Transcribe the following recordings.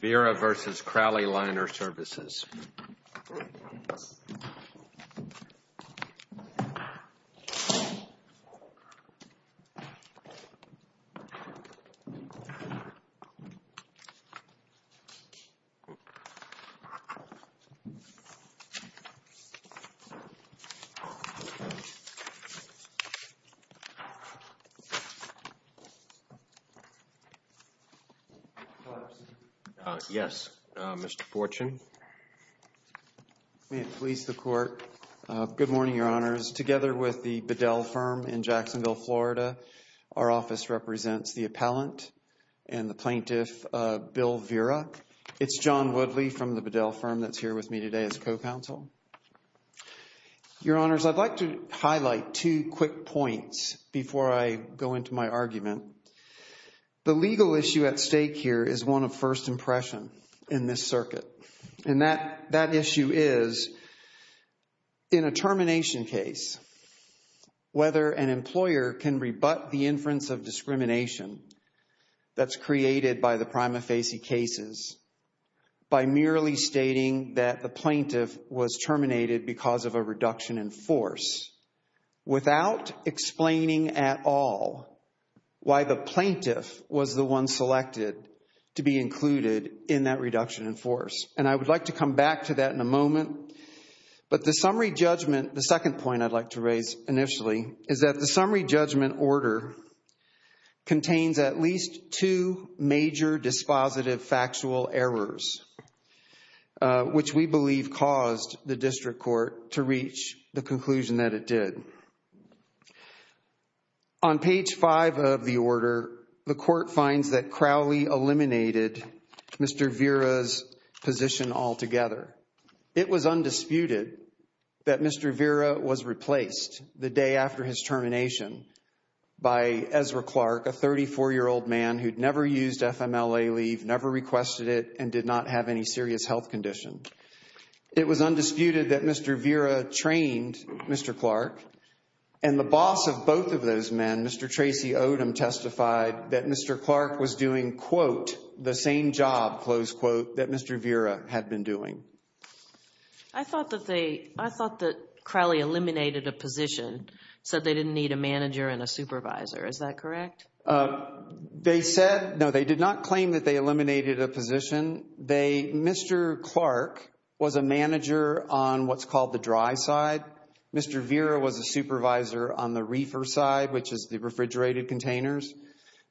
Vira v. Crowley Liner Services. Yes, Mr. Porchin. Police, the court. Good morning, Your Honors. Together with the Bedell Firm in Jacksonville, Florida, our office represents the appellant and the plaintiff, Bill Vira. It's John Woodley from the Bedell Firm that's here with me today as co-counsel. Your Honors, I'd like to highlight two quick points before I go into my argument. The legal issue at stake here is one of first impression in this circuit. And that issue is, in a termination case, whether an employer can rebut the inference of discrimination that's created by the prima facie cases by merely stating that the plaintiff was terminated because of a reduction in force without explaining at all why the plaintiff was the one selected to be included in that reduction in force. And I would like to come back to that in a moment. But the summary judgment, the second point I'd like to raise initially, is that the summary judgment order contains at least two major dispositive factual errors, which we believe caused the district court to reach the conclusion that it did. On page five of the order, the court finds that Crowley eliminated Mr. Vira's position altogether. It was undisputed that Mr. Vira was replaced the day after his termination by Ezra Clark, a 34-year-old man who'd never used FMLA leave, never requested it, and did not have any serious health condition. It was undisputed that Mr. Vira trained Mr. Clark, and the boss of both of those men, Mr. Tracy Odom, testified that Mr. Clark was doing, quote, the same job, close quote, that Mr. Vira had been doing. I thought that they, I thought that Crowley eliminated a position, said they didn't need a manager and a supervisor. Is that correct? They said, no, they did not claim that they eliminated a position. They, Mr. Clark was a manager on what's called the dry side. Mr. Vira was a supervisor on the reefer side, which is the refrigerated containers.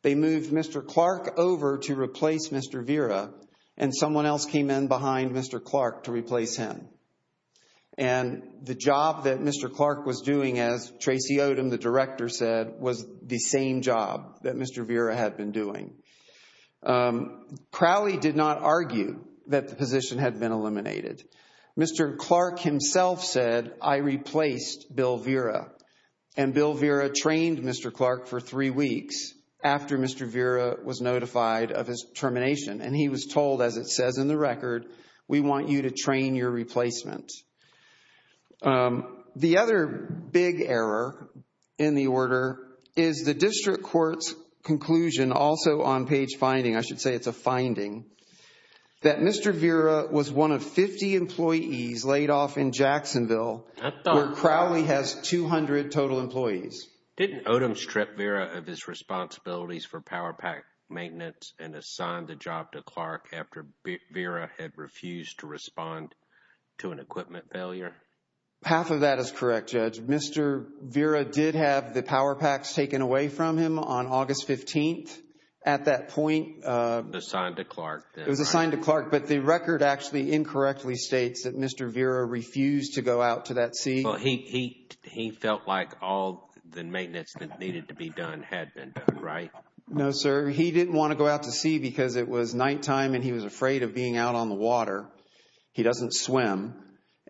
They moved Mr. Clark over to replace Mr. Vira, and someone else came in behind Mr. Clark to replace him. And the job that Mr. Clark was doing, as Tracy Odom, the director, said, was the same job that Mr. Vira had been doing. Crowley did not argue that the position had been eliminated. Mr. Clark himself said, I replaced Bill Vira. And Bill Vira trained Mr. Clark for three weeks after Mr. Vira was notified of his termination. And he was told, as it says in the record, we want you to train your replacement. The other big error in the order is the district court's conclusion, also on page finding, I should say it's a finding, that Mr. Vira was one of 50 employees laid off in Jacksonville where Crowley has 200 total employees. Didn't Odom strip Vira of his responsibilities for power pack maintenance and assign the job to Clark after Vira had refused to respond to an equipment failure? Half of that is correct, Judge. Mr. Vira did have the power packs taken away from him on August 15th. At that point. It was assigned to Clark. It was assigned to Clark, but the record actually incorrectly states that Mr. Vira refused to go out to that sea. He felt like all the maintenance that needed to be done had been done, right? No, sir. He didn't want to go out to sea because it was nighttime and he was afraid of being out on the water. He doesn't swim.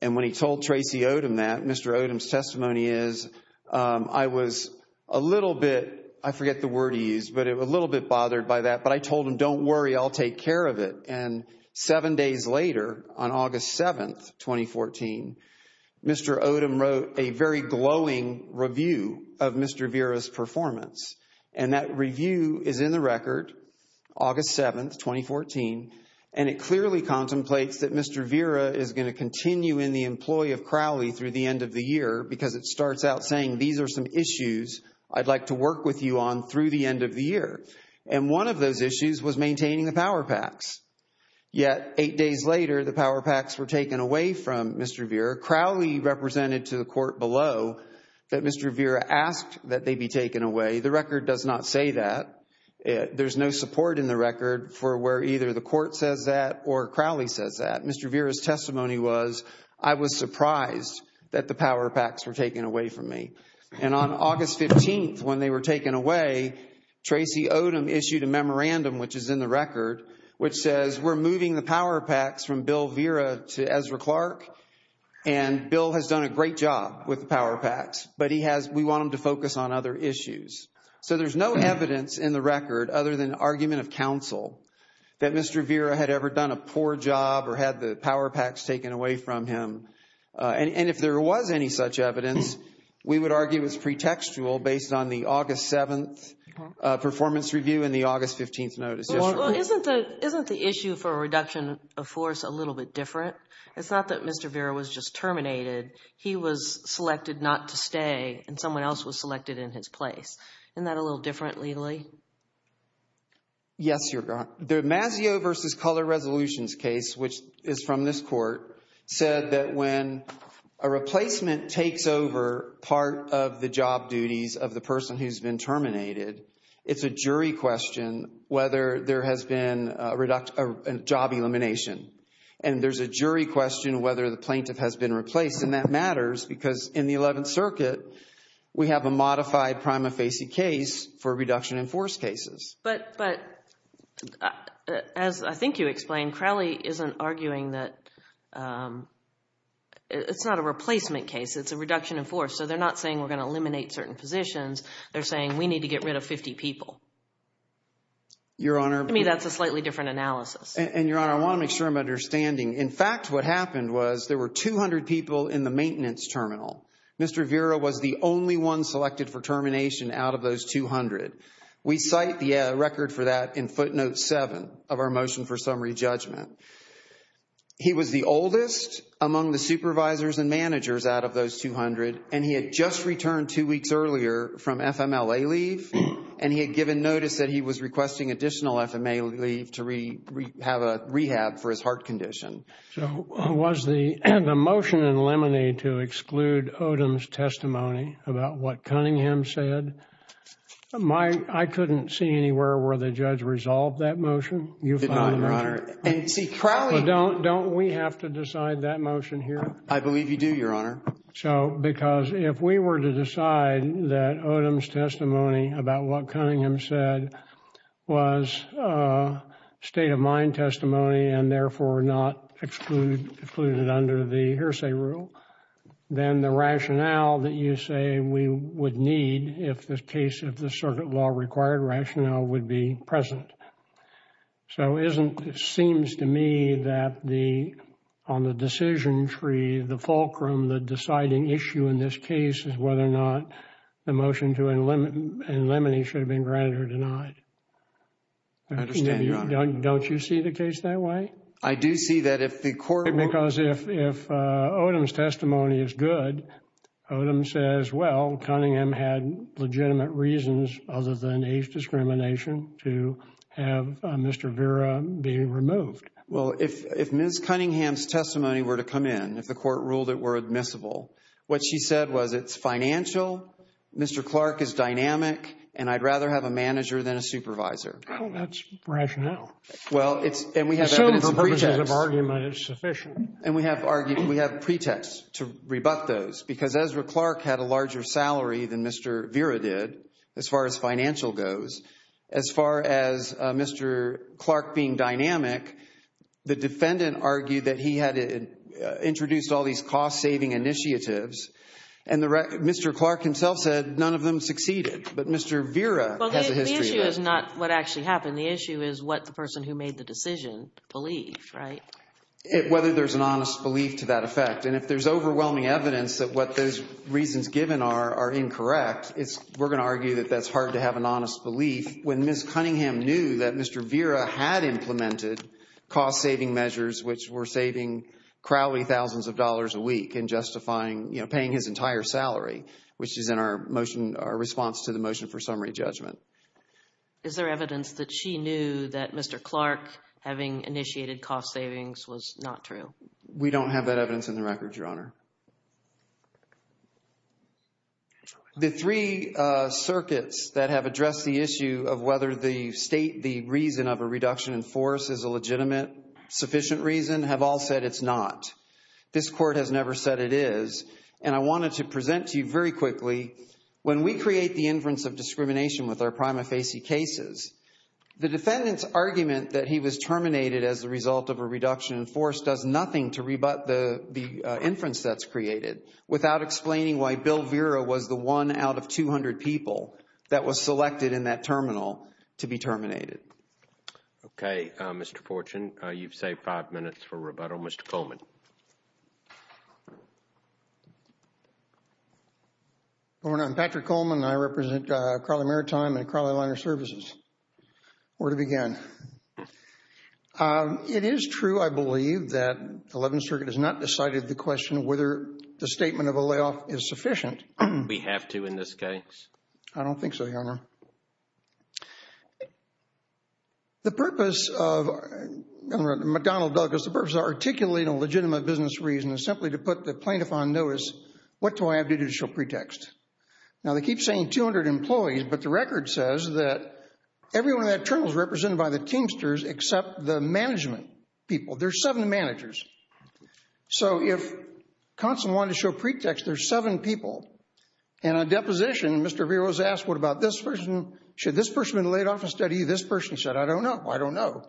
And when he told Tracy Odom that, Mr. Odom's testimony is, I was a little bit, I forget the word he used, but a little bit bothered by that. But I told him, don't worry, I'll take care of it. And seven days later, on August 7th, 2014, Mr. Odom wrote a very glowing review of Mr. Vira's performance. And that review is in the record, August 7th, 2014. And it clearly contemplates that Mr. Vira is going to continue in the employ of Crowley through the end of the year because it starts out saying, these are some issues I'd like to work with you on through the end of the year. And one of those issues was maintaining the power packs. Yet, eight days later, the power packs were taken away from Mr. Vira. Crowley represented to the court below that Mr. Vira asked that they be taken away. The record does not say that. There's no support in the record for where either the court says that or Crowley says that. Mr. Vira's testimony was, I was surprised that the power packs were taken away from me. And on August 15th, when they were taken away, Tracy Odom issued a memorandum, which is in the record, which says we're moving the power packs from Bill Vira to Ezra Clark. And Bill has done a great job with the power packs, but we want him to focus on other issues. So there's no evidence in the record other than argument of counsel that Mr. Vira had ever done a poor job or had the power packs taken away from him. And if there was any such evidence, we would argue it was pretextual based on the August 7th performance review and the August 15th notice issued. Well, isn't the issue for a reduction of force a little bit different? It's not that Mr. Vira was just terminated. He was selected not to stay and someone else was selected in his place. Isn't that a little different, legally? Yes, Your Honor. The Mazzeo v. Color Resolutions case, which is from this court, said that when a replacement takes over part of the job duties of the person who's been terminated, it's a jury question whether there has been a job elimination. And there's a jury question whether the plaintiff has been replaced. And that matters because in the Eleventh Circuit, we have a modified prima facie case for reduction in force cases. But as I think you explained, Crowley isn't arguing that it's not a replacement case. It's a reduction in force. So they're not saying we're going to eliminate certain positions. They're saying we need to get rid of 50 people. Your Honor. I mean, that's a slightly different analysis. And, Your Honor, I want to make sure I'm understanding. In fact, what happened was there were 200 people in the maintenance terminal. Mr. Vira was the only one selected for termination out of those 200. We cite the record for that in footnote 7 of our motion for summary judgment. He was the oldest among the supervisors and managers out of those 200. And he had just returned two weeks earlier from FMLA leave. And he had given notice that he was requesting additional FMLA leave to have a rehab for his heart condition. So was the motion in Lemony to exclude Odom's testimony about what Cunningham said? I couldn't see anywhere where the judge resolved that motion. You find that? Did not, Your Honor. And see, Crowley. Don't we have to decide that motion here? I believe you do, Your Honor. So, because if we were to decide that Odom's testimony about what Cunningham said was state-of-mind testimony and therefore not excluded under the hearsay rule, then the rationale that you say we would need if the case of the circuit law required rationale would be present. So, it seems to me that on the decision tree, the fulcrum, the deciding issue in this case is whether or not the motion in Lemony should have been granted or denied. I understand, Your Honor. Don't you see the case that way? I do see that if the court... Because if Odom's testimony is good, Odom says, well, Cunningham had legitimate reasons other than age discrimination to have Mr. Vera be removed. Well, if Ms. Cunningham's testimony were to come in, if the court ruled it were admissible, what she said was it's financial, Mr. Clark is dynamic, and I'd rather have a manager than a supervisor. Well, that's rationale. Well, it's... Assuming for purposes of argument, it's sufficient. And we have argued, we have pretext to rebut those because Ezra Clark had a larger salary than Mr. Vera did, as far as financial goes. As far as Mr. Clark being dynamic, the defendant argued that he had introduced all these cost-saving initiatives, and Mr. Clark himself said none of them succeeded. But Mr. Vera has a history of that. Well, the issue is not what actually happened. The issue is what the person who made the decision believed, right? Whether there's an honest belief to that effect. And if there's overwhelming evidence that what those reasons given are are incorrect, we're going to argue that that's hard to have an honest belief when Ms. Cunningham knew that Mr. Vera had implemented cost-saving measures, which were saving Crowley thousands of dollars a week and justifying, you know, paying his entire salary, which is in our motion, our response to the motion for summary judgment. Is there evidence that she knew that Mr. Clark, having initiated cost savings, was not true? We don't have that evidence in the record, Your Honor. The three circuits that have addressed the issue of whether the state, the reason of a reduction in force is a legitimate, sufficient reason, have all said it's not. This Court has never said it is. And I wanted to present to you very quickly, when we create the inference of discrimination with our prima facie cases, the defendant's argument that he was terminated as a result of a reduction in force does nothing to rebut the inference that's created without explaining why Bill Vera was the one out of 200 people that was selected in that terminal to be terminated. Okay, Mr. Fortune. You've saved five minutes for rebuttal. Mr. Coleman. Your Honor, I'm Patrick Coleman. I represent Crowley Maritime and Crowley Liner Services. Where to begin? It is true, I believe, that the Eleventh Circuit has not decided the question whether the statement of a layoff is sufficient. We have to in this case. I don't think so, Your Honor. The purpose of, I'm going to run to McDonnell Douglas, the purpose of articulating a legitimate business reason is simply to put the plaintiff on notice. What do I have to do to show pretext? Now, they keep saying 200 employees, but the record says that everyone in that terminal is represented by the Teamsters except the management people. There's seven managers. So if Conson wanted to show pretext, there's seven people. And on deposition, Mr. Vera was asked, what about this person? Should this person have been laid off instead of this person? He said, I don't know. I don't know.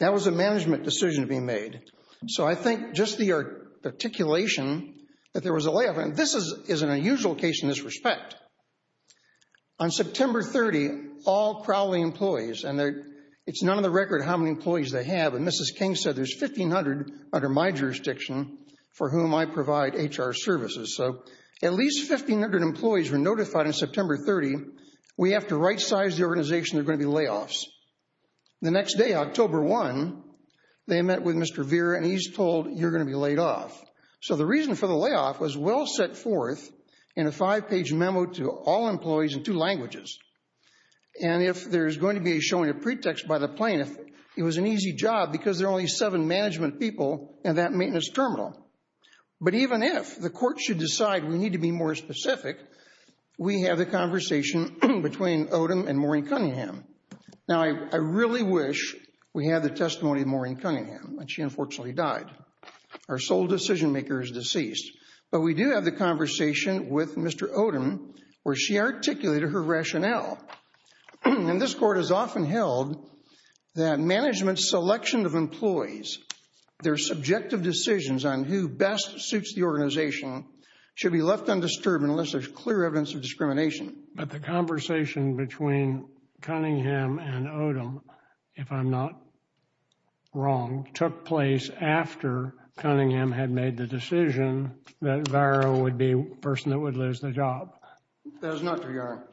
That was a management decision to be made. So I think just the articulation that there was a layoff, and this isn't a usual case in this respect. On September 30, all Crowley employees, and it's not on the record how many employees they have, and Mrs. King said there's 1,500 under my jurisdiction for whom I provide HR services. So at least 1,500 employees were notified on September 30, we have to right-size the organization, there are going to be layoffs. The next day, October 1, they met with Mr. Vera, and he's told you're going to be laid off. So the reason for the layoff was well set forth in a five-page memo to all employees in two languages. And if there's going to be a showing of pretext by the plaintiff, it was an easy job because there are only seven management people in that maintenance terminal. But even if the court should decide we need to be more specific, we have the conversation between Odom and Maureen Cunningham. Now, I really wish we had the testimony of Maureen Cunningham, but she unfortunately died. Our sole decision-maker is deceased. But we do have the conversation with Mr. Odom where she articulated her rationale. And this court has often held that management's selection of employees, their subjective decisions on who best suits the organization, should be left undisturbed unless there's clear evidence of discrimination. But the conversation between Cunningham and Odom, if I'm not wrong, took place after Cunningham had made the decision that Vera would be the person that would lose the job. That is not true, Your Honor.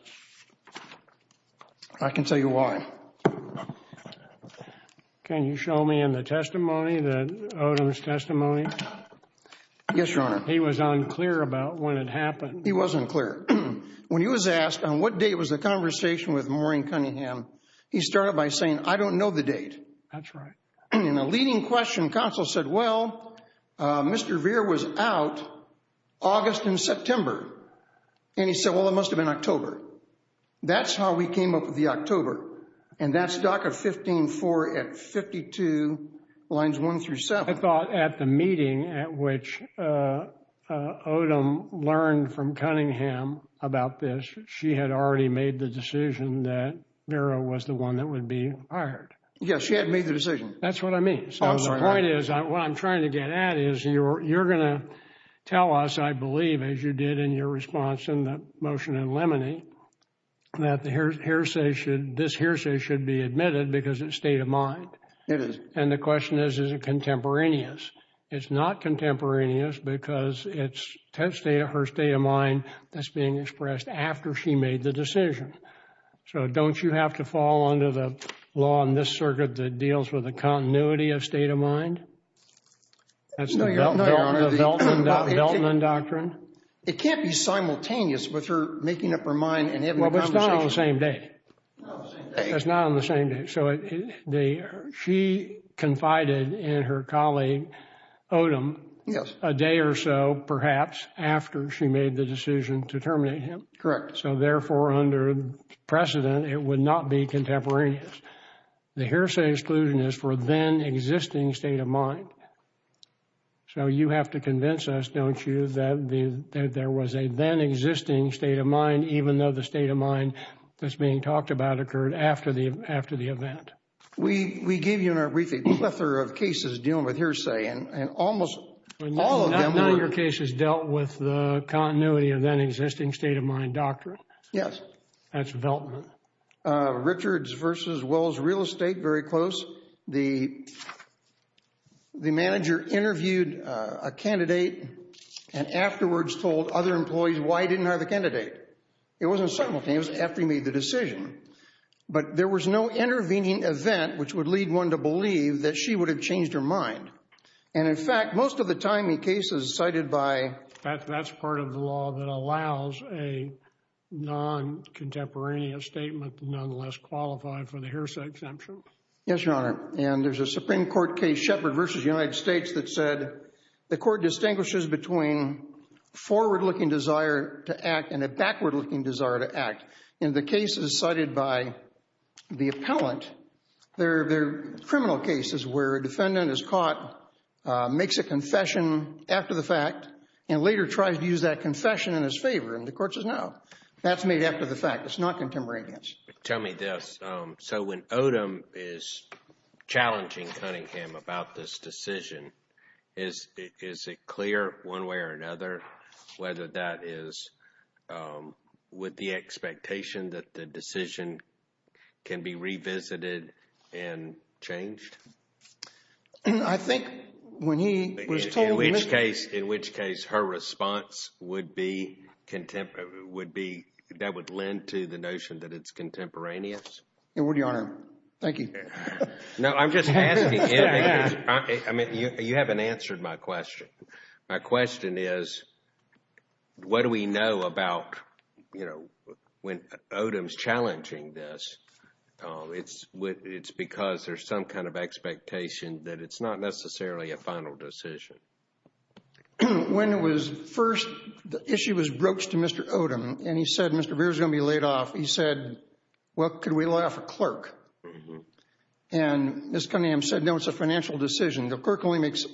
I can tell you why. Can you show me in the testimony, Odom's testimony? Yes, Your Honor. He was unclear about when it happened. He was unclear. When he was asked on what date was the conversation with Maureen Cunningham, he started by saying, I don't know the date. That's right. And in a leading question, counsel said, well, Mr. Vera was out August and September. And he said, well, it must have been October. That's how we came up with the October. And that's DACA 15-4 at 52 lines 1 through 7. I thought at the meeting at which Odom learned from Cunningham about this, she had already made the decision that Vera was the one that would be hired. Yes, she had made the decision. That's what I mean. So the point is, what I'm trying to get at is you're going to tell us, I believe, as you did in your response in the motion in Lemony, that this hearsay should be admitted because it's state of mind. It is. And the question is, is it contemporaneous? It's not contemporaneous because it's her state of mind that's being expressed after she made the decision. So don't you have to fall under the law in this circuit that deals with the continuity of state of mind? That's the Veltman doctrine. It can't be simultaneous with her making up her mind and having a conversation. Well, but it's not on the same day. It's not on the same day. She confided in her colleague, Odom, a day or so, perhaps, after she made the decision to terminate him. Correct. So therefore, under precedent, it would not be contemporaneous. The hearsay exclusion is for then existing state of mind. So you have to convince us, don't you, that there was a then existing state of mind, even though the state of mind that's being talked about occurred after the event? We gave you in our briefing a plethora of cases dealing with hearsay, and almost all of them were— None of your cases dealt with the continuity of then existing state of mind doctrine? Yes. That's Veltman. Richards v. Wells Real Estate, very close. The manager interviewed a candidate and afterwards told other employees why he didn't hire the candidate. It wasn't simultaneous after he made the decision, but there was no intervening event which would lead one to believe that she would have changed her mind. And in fact, most of the time in cases cited by— That's part of the law that allows a non-contemporaneous statement to nonetheless qualify for the hearsay exemption. Yes, Your Honor. And there's a Supreme Court case, Shepard v. United States, that said the court distinguishes between forward-looking desire to act and a backward-looking desire to act. In the cases cited by the appellant, they're criminal cases where a defendant is caught, makes a confession after the fact, and later tries to use that confession in his favor, and the court says no. That's made after the fact. It's not contemporaneous. Tell me this. So when Odom is challenging Cunningham about this decision, is it clear one way or another whether that is with the expectation that the decision can be revisited and changed? I think when he was told— In which case her response would be that would lend to the notion that it's contemporaneous? In word, Your Honor. Thank you. No, I'm just asking. I mean, you haven't answered my question. My question is what do we know about, you know, when Odom's challenging this? It's because there's some kind of expectation that it's not necessarily a final decision. When it was first—the issue was broached to Mr. Odom, and he said Mr. Vera's going to be laid off. He said, well, could we lay off a clerk? And Ms. Cunningham said, no, it's a financial decision. The clerk only makes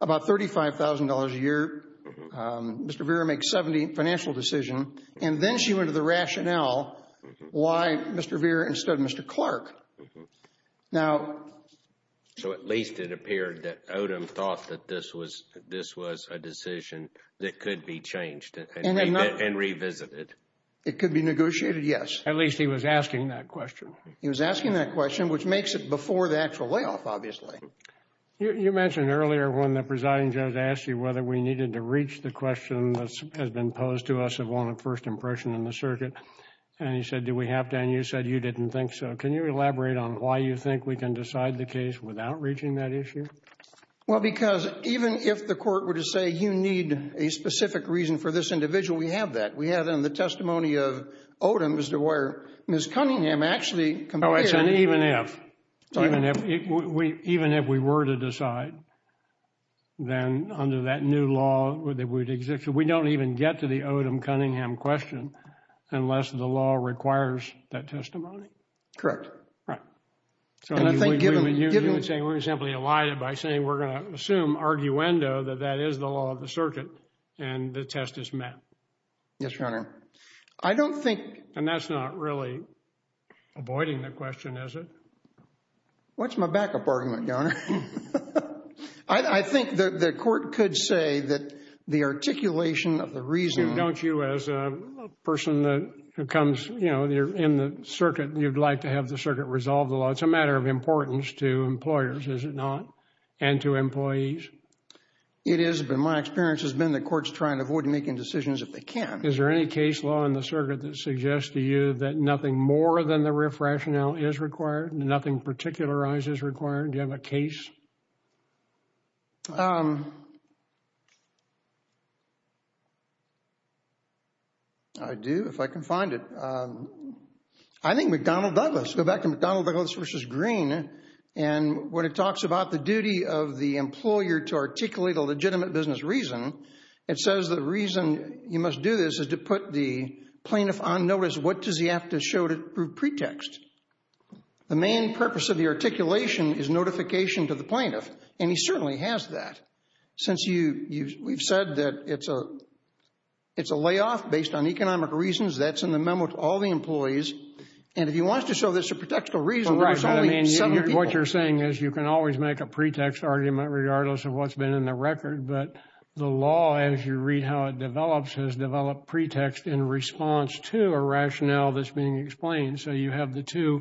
about $35,000 a year. Mr. Vera makes $70,000 financial decision. And then she went to the rationale why Mr. Vera instead of Mr. Clark. Now— So at least it appeared that Odom thought that this was a decision that could be changed and revisited. It could be negotiated, yes. At least he was asking that question. He was asking that question, which makes it before the actual layoff, obviously. You mentioned earlier when the presiding judge asked you whether we needed to reach the question that has been posed to us of one of first impression in the circuit. And he said, do we have to? And you said you didn't think so. Can you elaborate on why you think we can decide the case without reaching that issue? Well, because even if the court were to say you need a specific reason for this individual, we have that. We have it in the testimony of Odom as to where Ms. Cunningham actually— Oh, it's an even if. Even if we were to decide. Then under that new law that would exist, we don't even get to the Odom-Cunningham question unless the law requires that testimony? Correct. Right. And I think given— So you would say we're simply allied by saying we're going to assume arguendo that that is the law of the circuit and the test is met. Yes, Your Honor. I don't think— And that's not really avoiding the question, is it? What's my backup argument, Your Honor? I think the court could say that the articulation of the reason— As a person who comes in the circuit, you'd like to have the circuit resolve the law. It's a matter of importance to employers, is it not, and to employees? It is, but my experience has been the court's trying to avoid making decisions if they can. Is there any case law in the circuit that suggests to you that nothing more than the RF rationale is required, nothing particularized is required? Do you have a case? I do, if I can find it. I think McDonnell-Douglas. Go back to McDonnell-Douglas v. Green, and when it talks about the duty of the employer to articulate a legitimate business reason, it says the reason you must do this is to put the plaintiff on notice. What does he have to show to prove pretext? The main purpose of the articulation is notification to the plaintiff, and he certainly has that. Since we've said that it's a layoff based on economic reasons, that's in the memo to all the employees, and if he wants to show there's a pretextual reason, there's only seven people. What you're saying is you can always make a pretext argument regardless of what's been in the record, but the law, as you read how it develops, has developed pretext in response to a rationale that's being explained, so you have the two.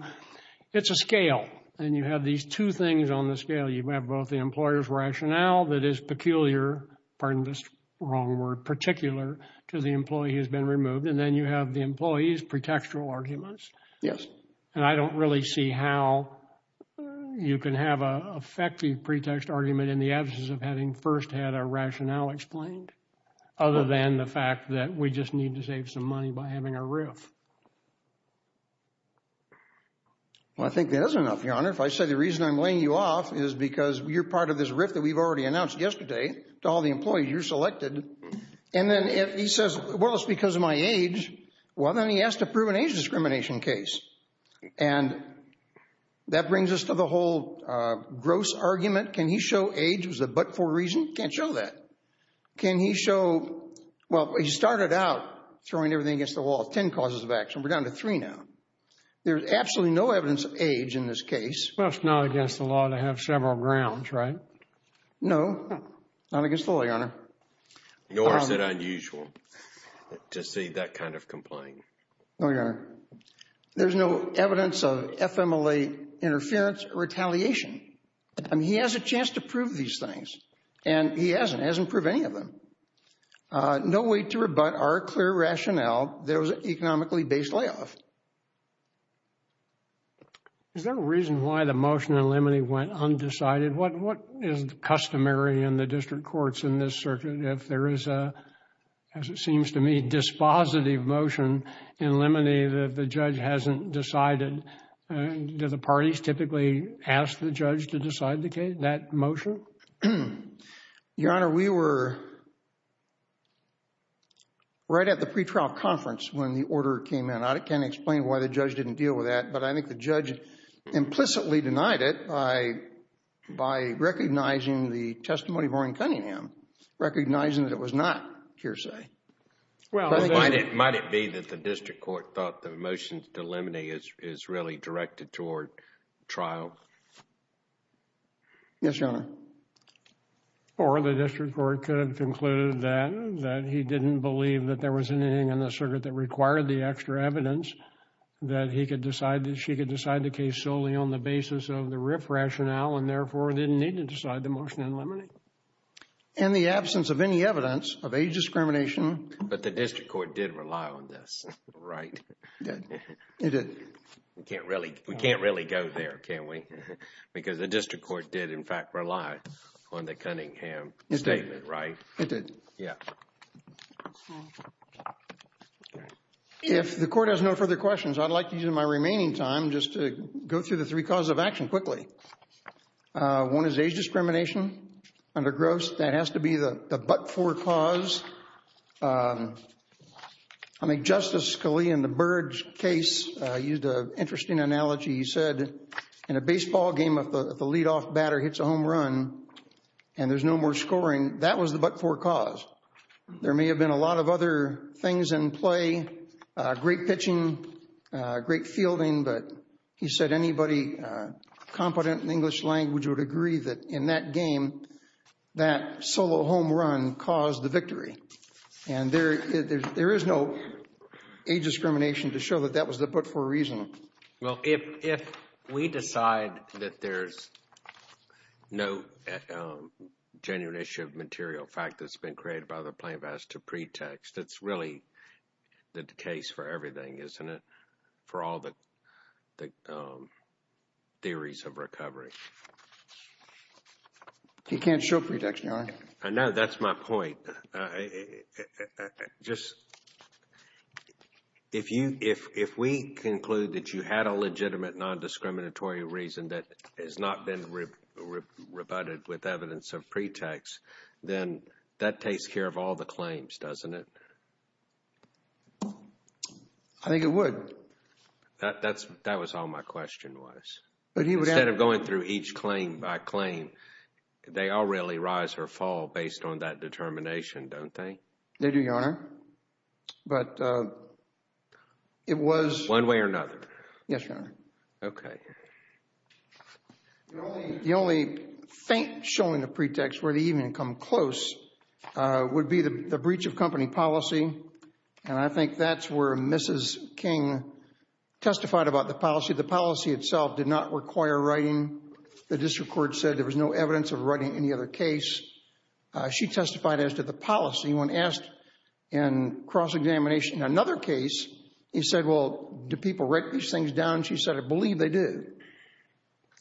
It's a scale, and you have these two things on the scale. You have both the employer's rationale that is peculiar, pardon this wrong word, particular to the employee who's been removed, and then you have the employee's pretextual arguments. Yes. And I don't really see how you can have an effective pretext argument in the absence of having first had a rationale explained other than the fact that we just need to save some money by having a RIF. Well, I think that is enough, Your Honor. If I say the reason I'm laying you off is because you're part of this RIF that we've already announced yesterday to all the employees, you're selected, and then if he says, well, it's because of my age, well, then he has to prove an age discrimination case, and that brings us to the whole gross argument. Can he show age was a but-for-reason? Can't show that. Can he show, well, he started out throwing everything against the wall. Ten causes of action. We're down to three now. There's absolutely no evidence of age in this case. Well, it's not against the law to have several grounds, right? No, not against the law, Your Honor. Nor is it unusual to see that kind of complaint. No, Your Honor. There's no evidence of FMLA interference or retaliation. He has a chance to prove these things, and he hasn't. He hasn't proved any of them. No way to rebut our clear rationale that it was an economically-based layoff. Is there a reason why the motion in limine went undecided? What is customary in the district courts in this circuit if there is a, as it seems to me, dispositive motion in limine that the judge hasn't decided? Do the parties typically ask the judge to decide that motion? Your Honor, we were right at the pretrial conference when the order came in. I can't explain why the judge didn't deal with that, but I think the judge implicitly denied it by recognizing the testimony of Orrin Cunningham, recognizing that it was not hearsay. Might it be that the district court thought the motion to limine is really directed toward trial? Yes, Your Honor. Or the district court could have concluded that he didn't believe that there was anything in the circuit that required the extra evidence, that he could decide that she could decide the case solely on the basis of the RIF rationale and therefore didn't need to decide the motion in limine. In the absence of any evidence of age discrimination... But the district court did rely on this, right? It did. It did. We can't really go there, can we? Because the district court did, in fact, rely on the Cunningham statement, right? It did. Yeah. If the court has no further questions, I'd like to use my remaining time just to go through the three causes of action quickly. One is age discrimination under Gross. That has to be the but-for cause. I mean, Justice Scalia, in the Burge case, used an interesting analogy. He said, in a baseball game, if the leadoff batter hits a home run and there's no more scoring, that was the but-for cause. There may have been a lot of other things in play, great pitching, great fielding, but he said anybody competent in English language would agree that in that game, that solo home run caused the victory. And there is no age discrimination to show that that was the but-for reason. Well, if we decide that there's no genuine issue of material fact that's been created by the plaintiff as to pretext, that's really the case for everything, isn't it? For all the theories of recovery. You can't show pretext, Your Honor. I know, that's my point. If we conclude that you had a legitimate non-discriminatory reason that has not been rebutted with evidence of pretext, then that takes care of all the claims, doesn't it? I think it would. That was all my question was. Instead of going through each claim by claim, they all really rise or fall based on that determination, don't they? They do, Your Honor. One way or another. Yes, Your Honor. Okay. The only faint showing of pretext where they even come close would be the breach of company policy. And I think that's where Mrs. King testified about the policy. The policy itself did not require writing. The district court said there was no evidence of writing any other case. She testified as to the policy. When asked in cross-examination another case, he said, well, do people write these things down? She said, I believe they do.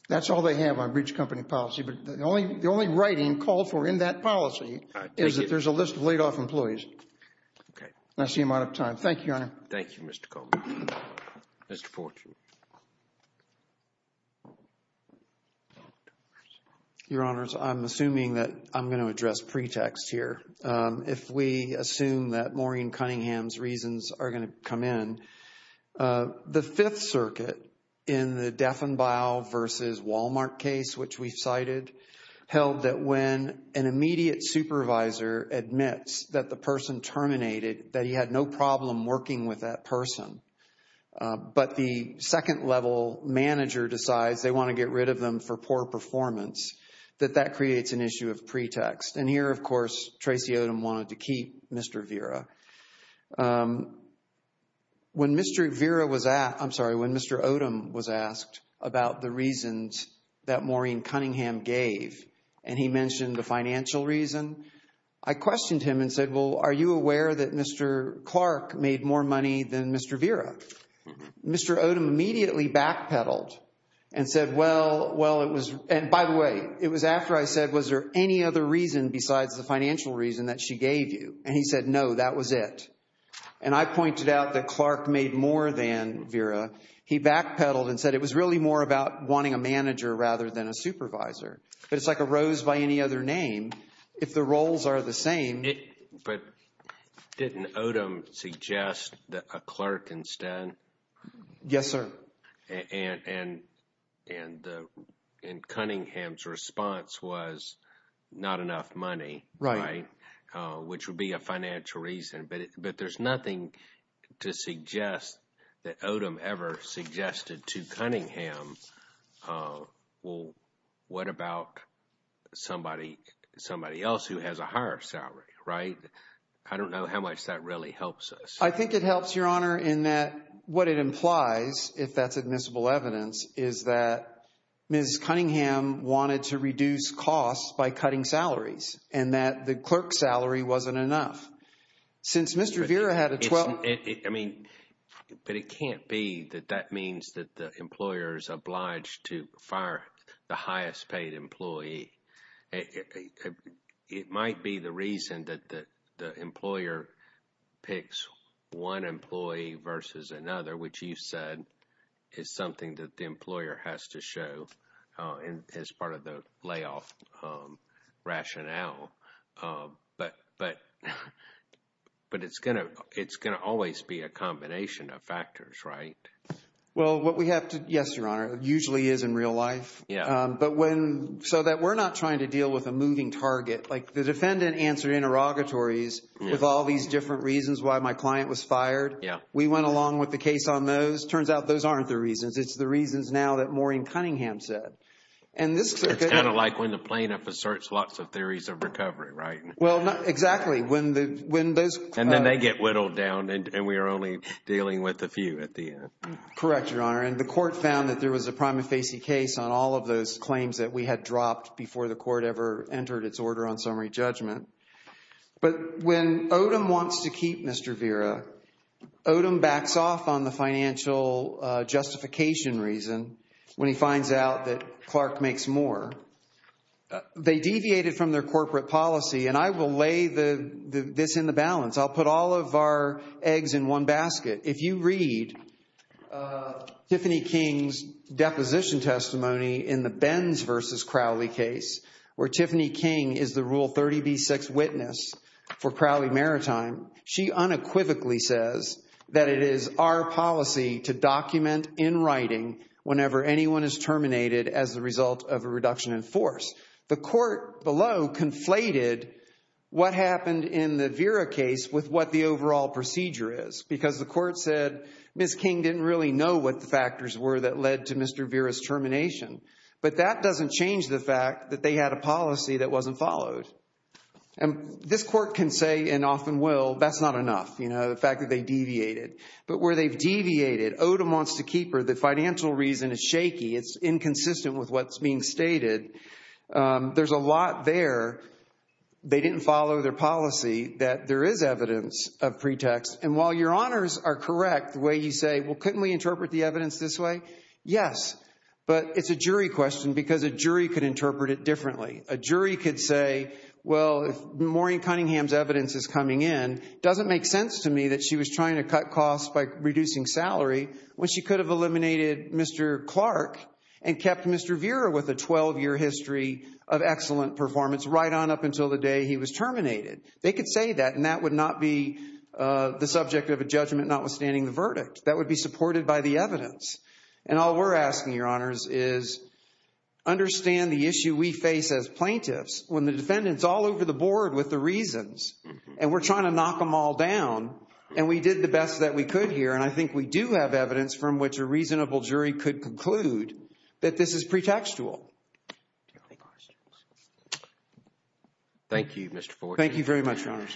That's all they have on breach of company policy, but the only writing called for in that policy is that there's a list of laid-off employees. Okay. That's the amount of time. Thank you, Your Honor. Thank you, Mr. Coleman. Mr. Fortune. Your Honors, I'm assuming that I'm going to address pretext here. If we assume that Maureen Cunningham's reasons are going to come in, the Fifth Circuit in the Deffenbau versus Walmart case, which we cited, held that when an immediate supervisor admits that the person terminated, that he had no problem working with that person, but the second-level manager decides they want to get rid of them for poor performance, that that creates an issue of pretext. And here, of course, Tracey Odom wanted to keep Mr. Vera. When Mr. Odom was asked about the reasons that Maureen Cunningham gave and he mentioned the financial reason, I questioned him and said, well, are you aware that Mr. Clark made more money than Mr. Vera? Mr. Odom immediately backpedaled and said, well, it was – and by the way, it was after I said, was there any other reason besides the financial reason that she gave you? And he said, no, that was it. And I pointed out that Clark made more than Vera. He backpedaled and said it was really more about wanting a manager rather than a supervisor. But it's like a rose by any other name. If the roles are the same – But didn't Odom suggest a clerk instead? Yes, sir. And Cunningham's response was not enough money, right? Right. Which would be a financial reason. But there's nothing to suggest that Odom ever suggested to Cunningham, well, what about somebody else who has a higher salary, right? I don't know how much that really helps us. I think it helps, Your Honor, in that what it implies, if that's admissible evidence, is that Ms. Cunningham wanted to reduce costs by cutting salaries and that the clerk's salary wasn't enough. Since Mr. Vera had a – I mean, but it can't be that that means that the employer is obliged to fire the highest paid employee. It might be the reason that the employer picks one employee versus another, which you said is something that the employer has to show as part of the layoff rationale. But it's going to always be a combination of factors, right? Well, what we have to – yes, Your Honor, it usually is in real life. Yeah. But when – so that we're not trying to deal with a moving target. Like the defendant answered interrogatories with all these different reasons why my client was fired. Yeah. We went along with the case on those. Turns out those aren't the reasons. It's the reasons now that Maureen Cunningham said. It's kind of like when the plaintiff asserts lots of theories of recovery, right? Well, exactly. And then they get whittled down and we are only dealing with a few at the end. Correct, Your Honor. And the court found that there was a prima facie case on all of those claims that we had dropped before the court ever entered its order on summary judgment. But when Odom wants to keep Mr. Vera, Odom backs off on the financial justification reason when he finds out that Clark makes more. They deviated from their corporate policy, and I will lay this in the balance. I'll put all of our eggs in one basket. If you read Tiffany King's deposition testimony in the Benz v. Crowley case where Tiffany King is the Rule 30b-6 witness for Crowley Maritime, she unequivocally says that it is our policy to document in writing whenever anyone is terminated as a result of a reduction in force. The court below conflated what happened in the Vera case with what the overall procedure is because the court said Ms. King didn't really know what the factors were that led to Mr. Vera's termination. But that doesn't change the fact that they had a policy that wasn't followed. And this court can say, and often will, that's not enough, the fact that they deviated. But where they've deviated, Odom wants to keep her. The financial reason is shaky. It's inconsistent with what's being stated. There's a lot there. They didn't follow their policy that there is evidence of pretext. And while your honors are correct the way you say, well, couldn't we interpret the evidence this way? Yes, but it's a jury question because a jury could interpret it differently. A jury could say, well, if Maureen Cunningham's evidence is coming in, it doesn't make sense to me that she was trying to cut costs by reducing salary when she could have eliminated Mr. Clark and kept Mr. Vera with a 12-year history of excellent performance right on up until the day he was terminated. They could say that, and that would not be the subject of a judgment That would be supported by the evidence. And all we're asking, your honors, is understand the issue we face as plaintiffs when the defendant's all over the board with the reasons and we're trying to knock them all down and we did the best that we could here and I think we do have evidence from which a reasonable jury could conclude that this is pretextual. Thank you, Mr. Ford. Thank you very much, your honors. Thank you.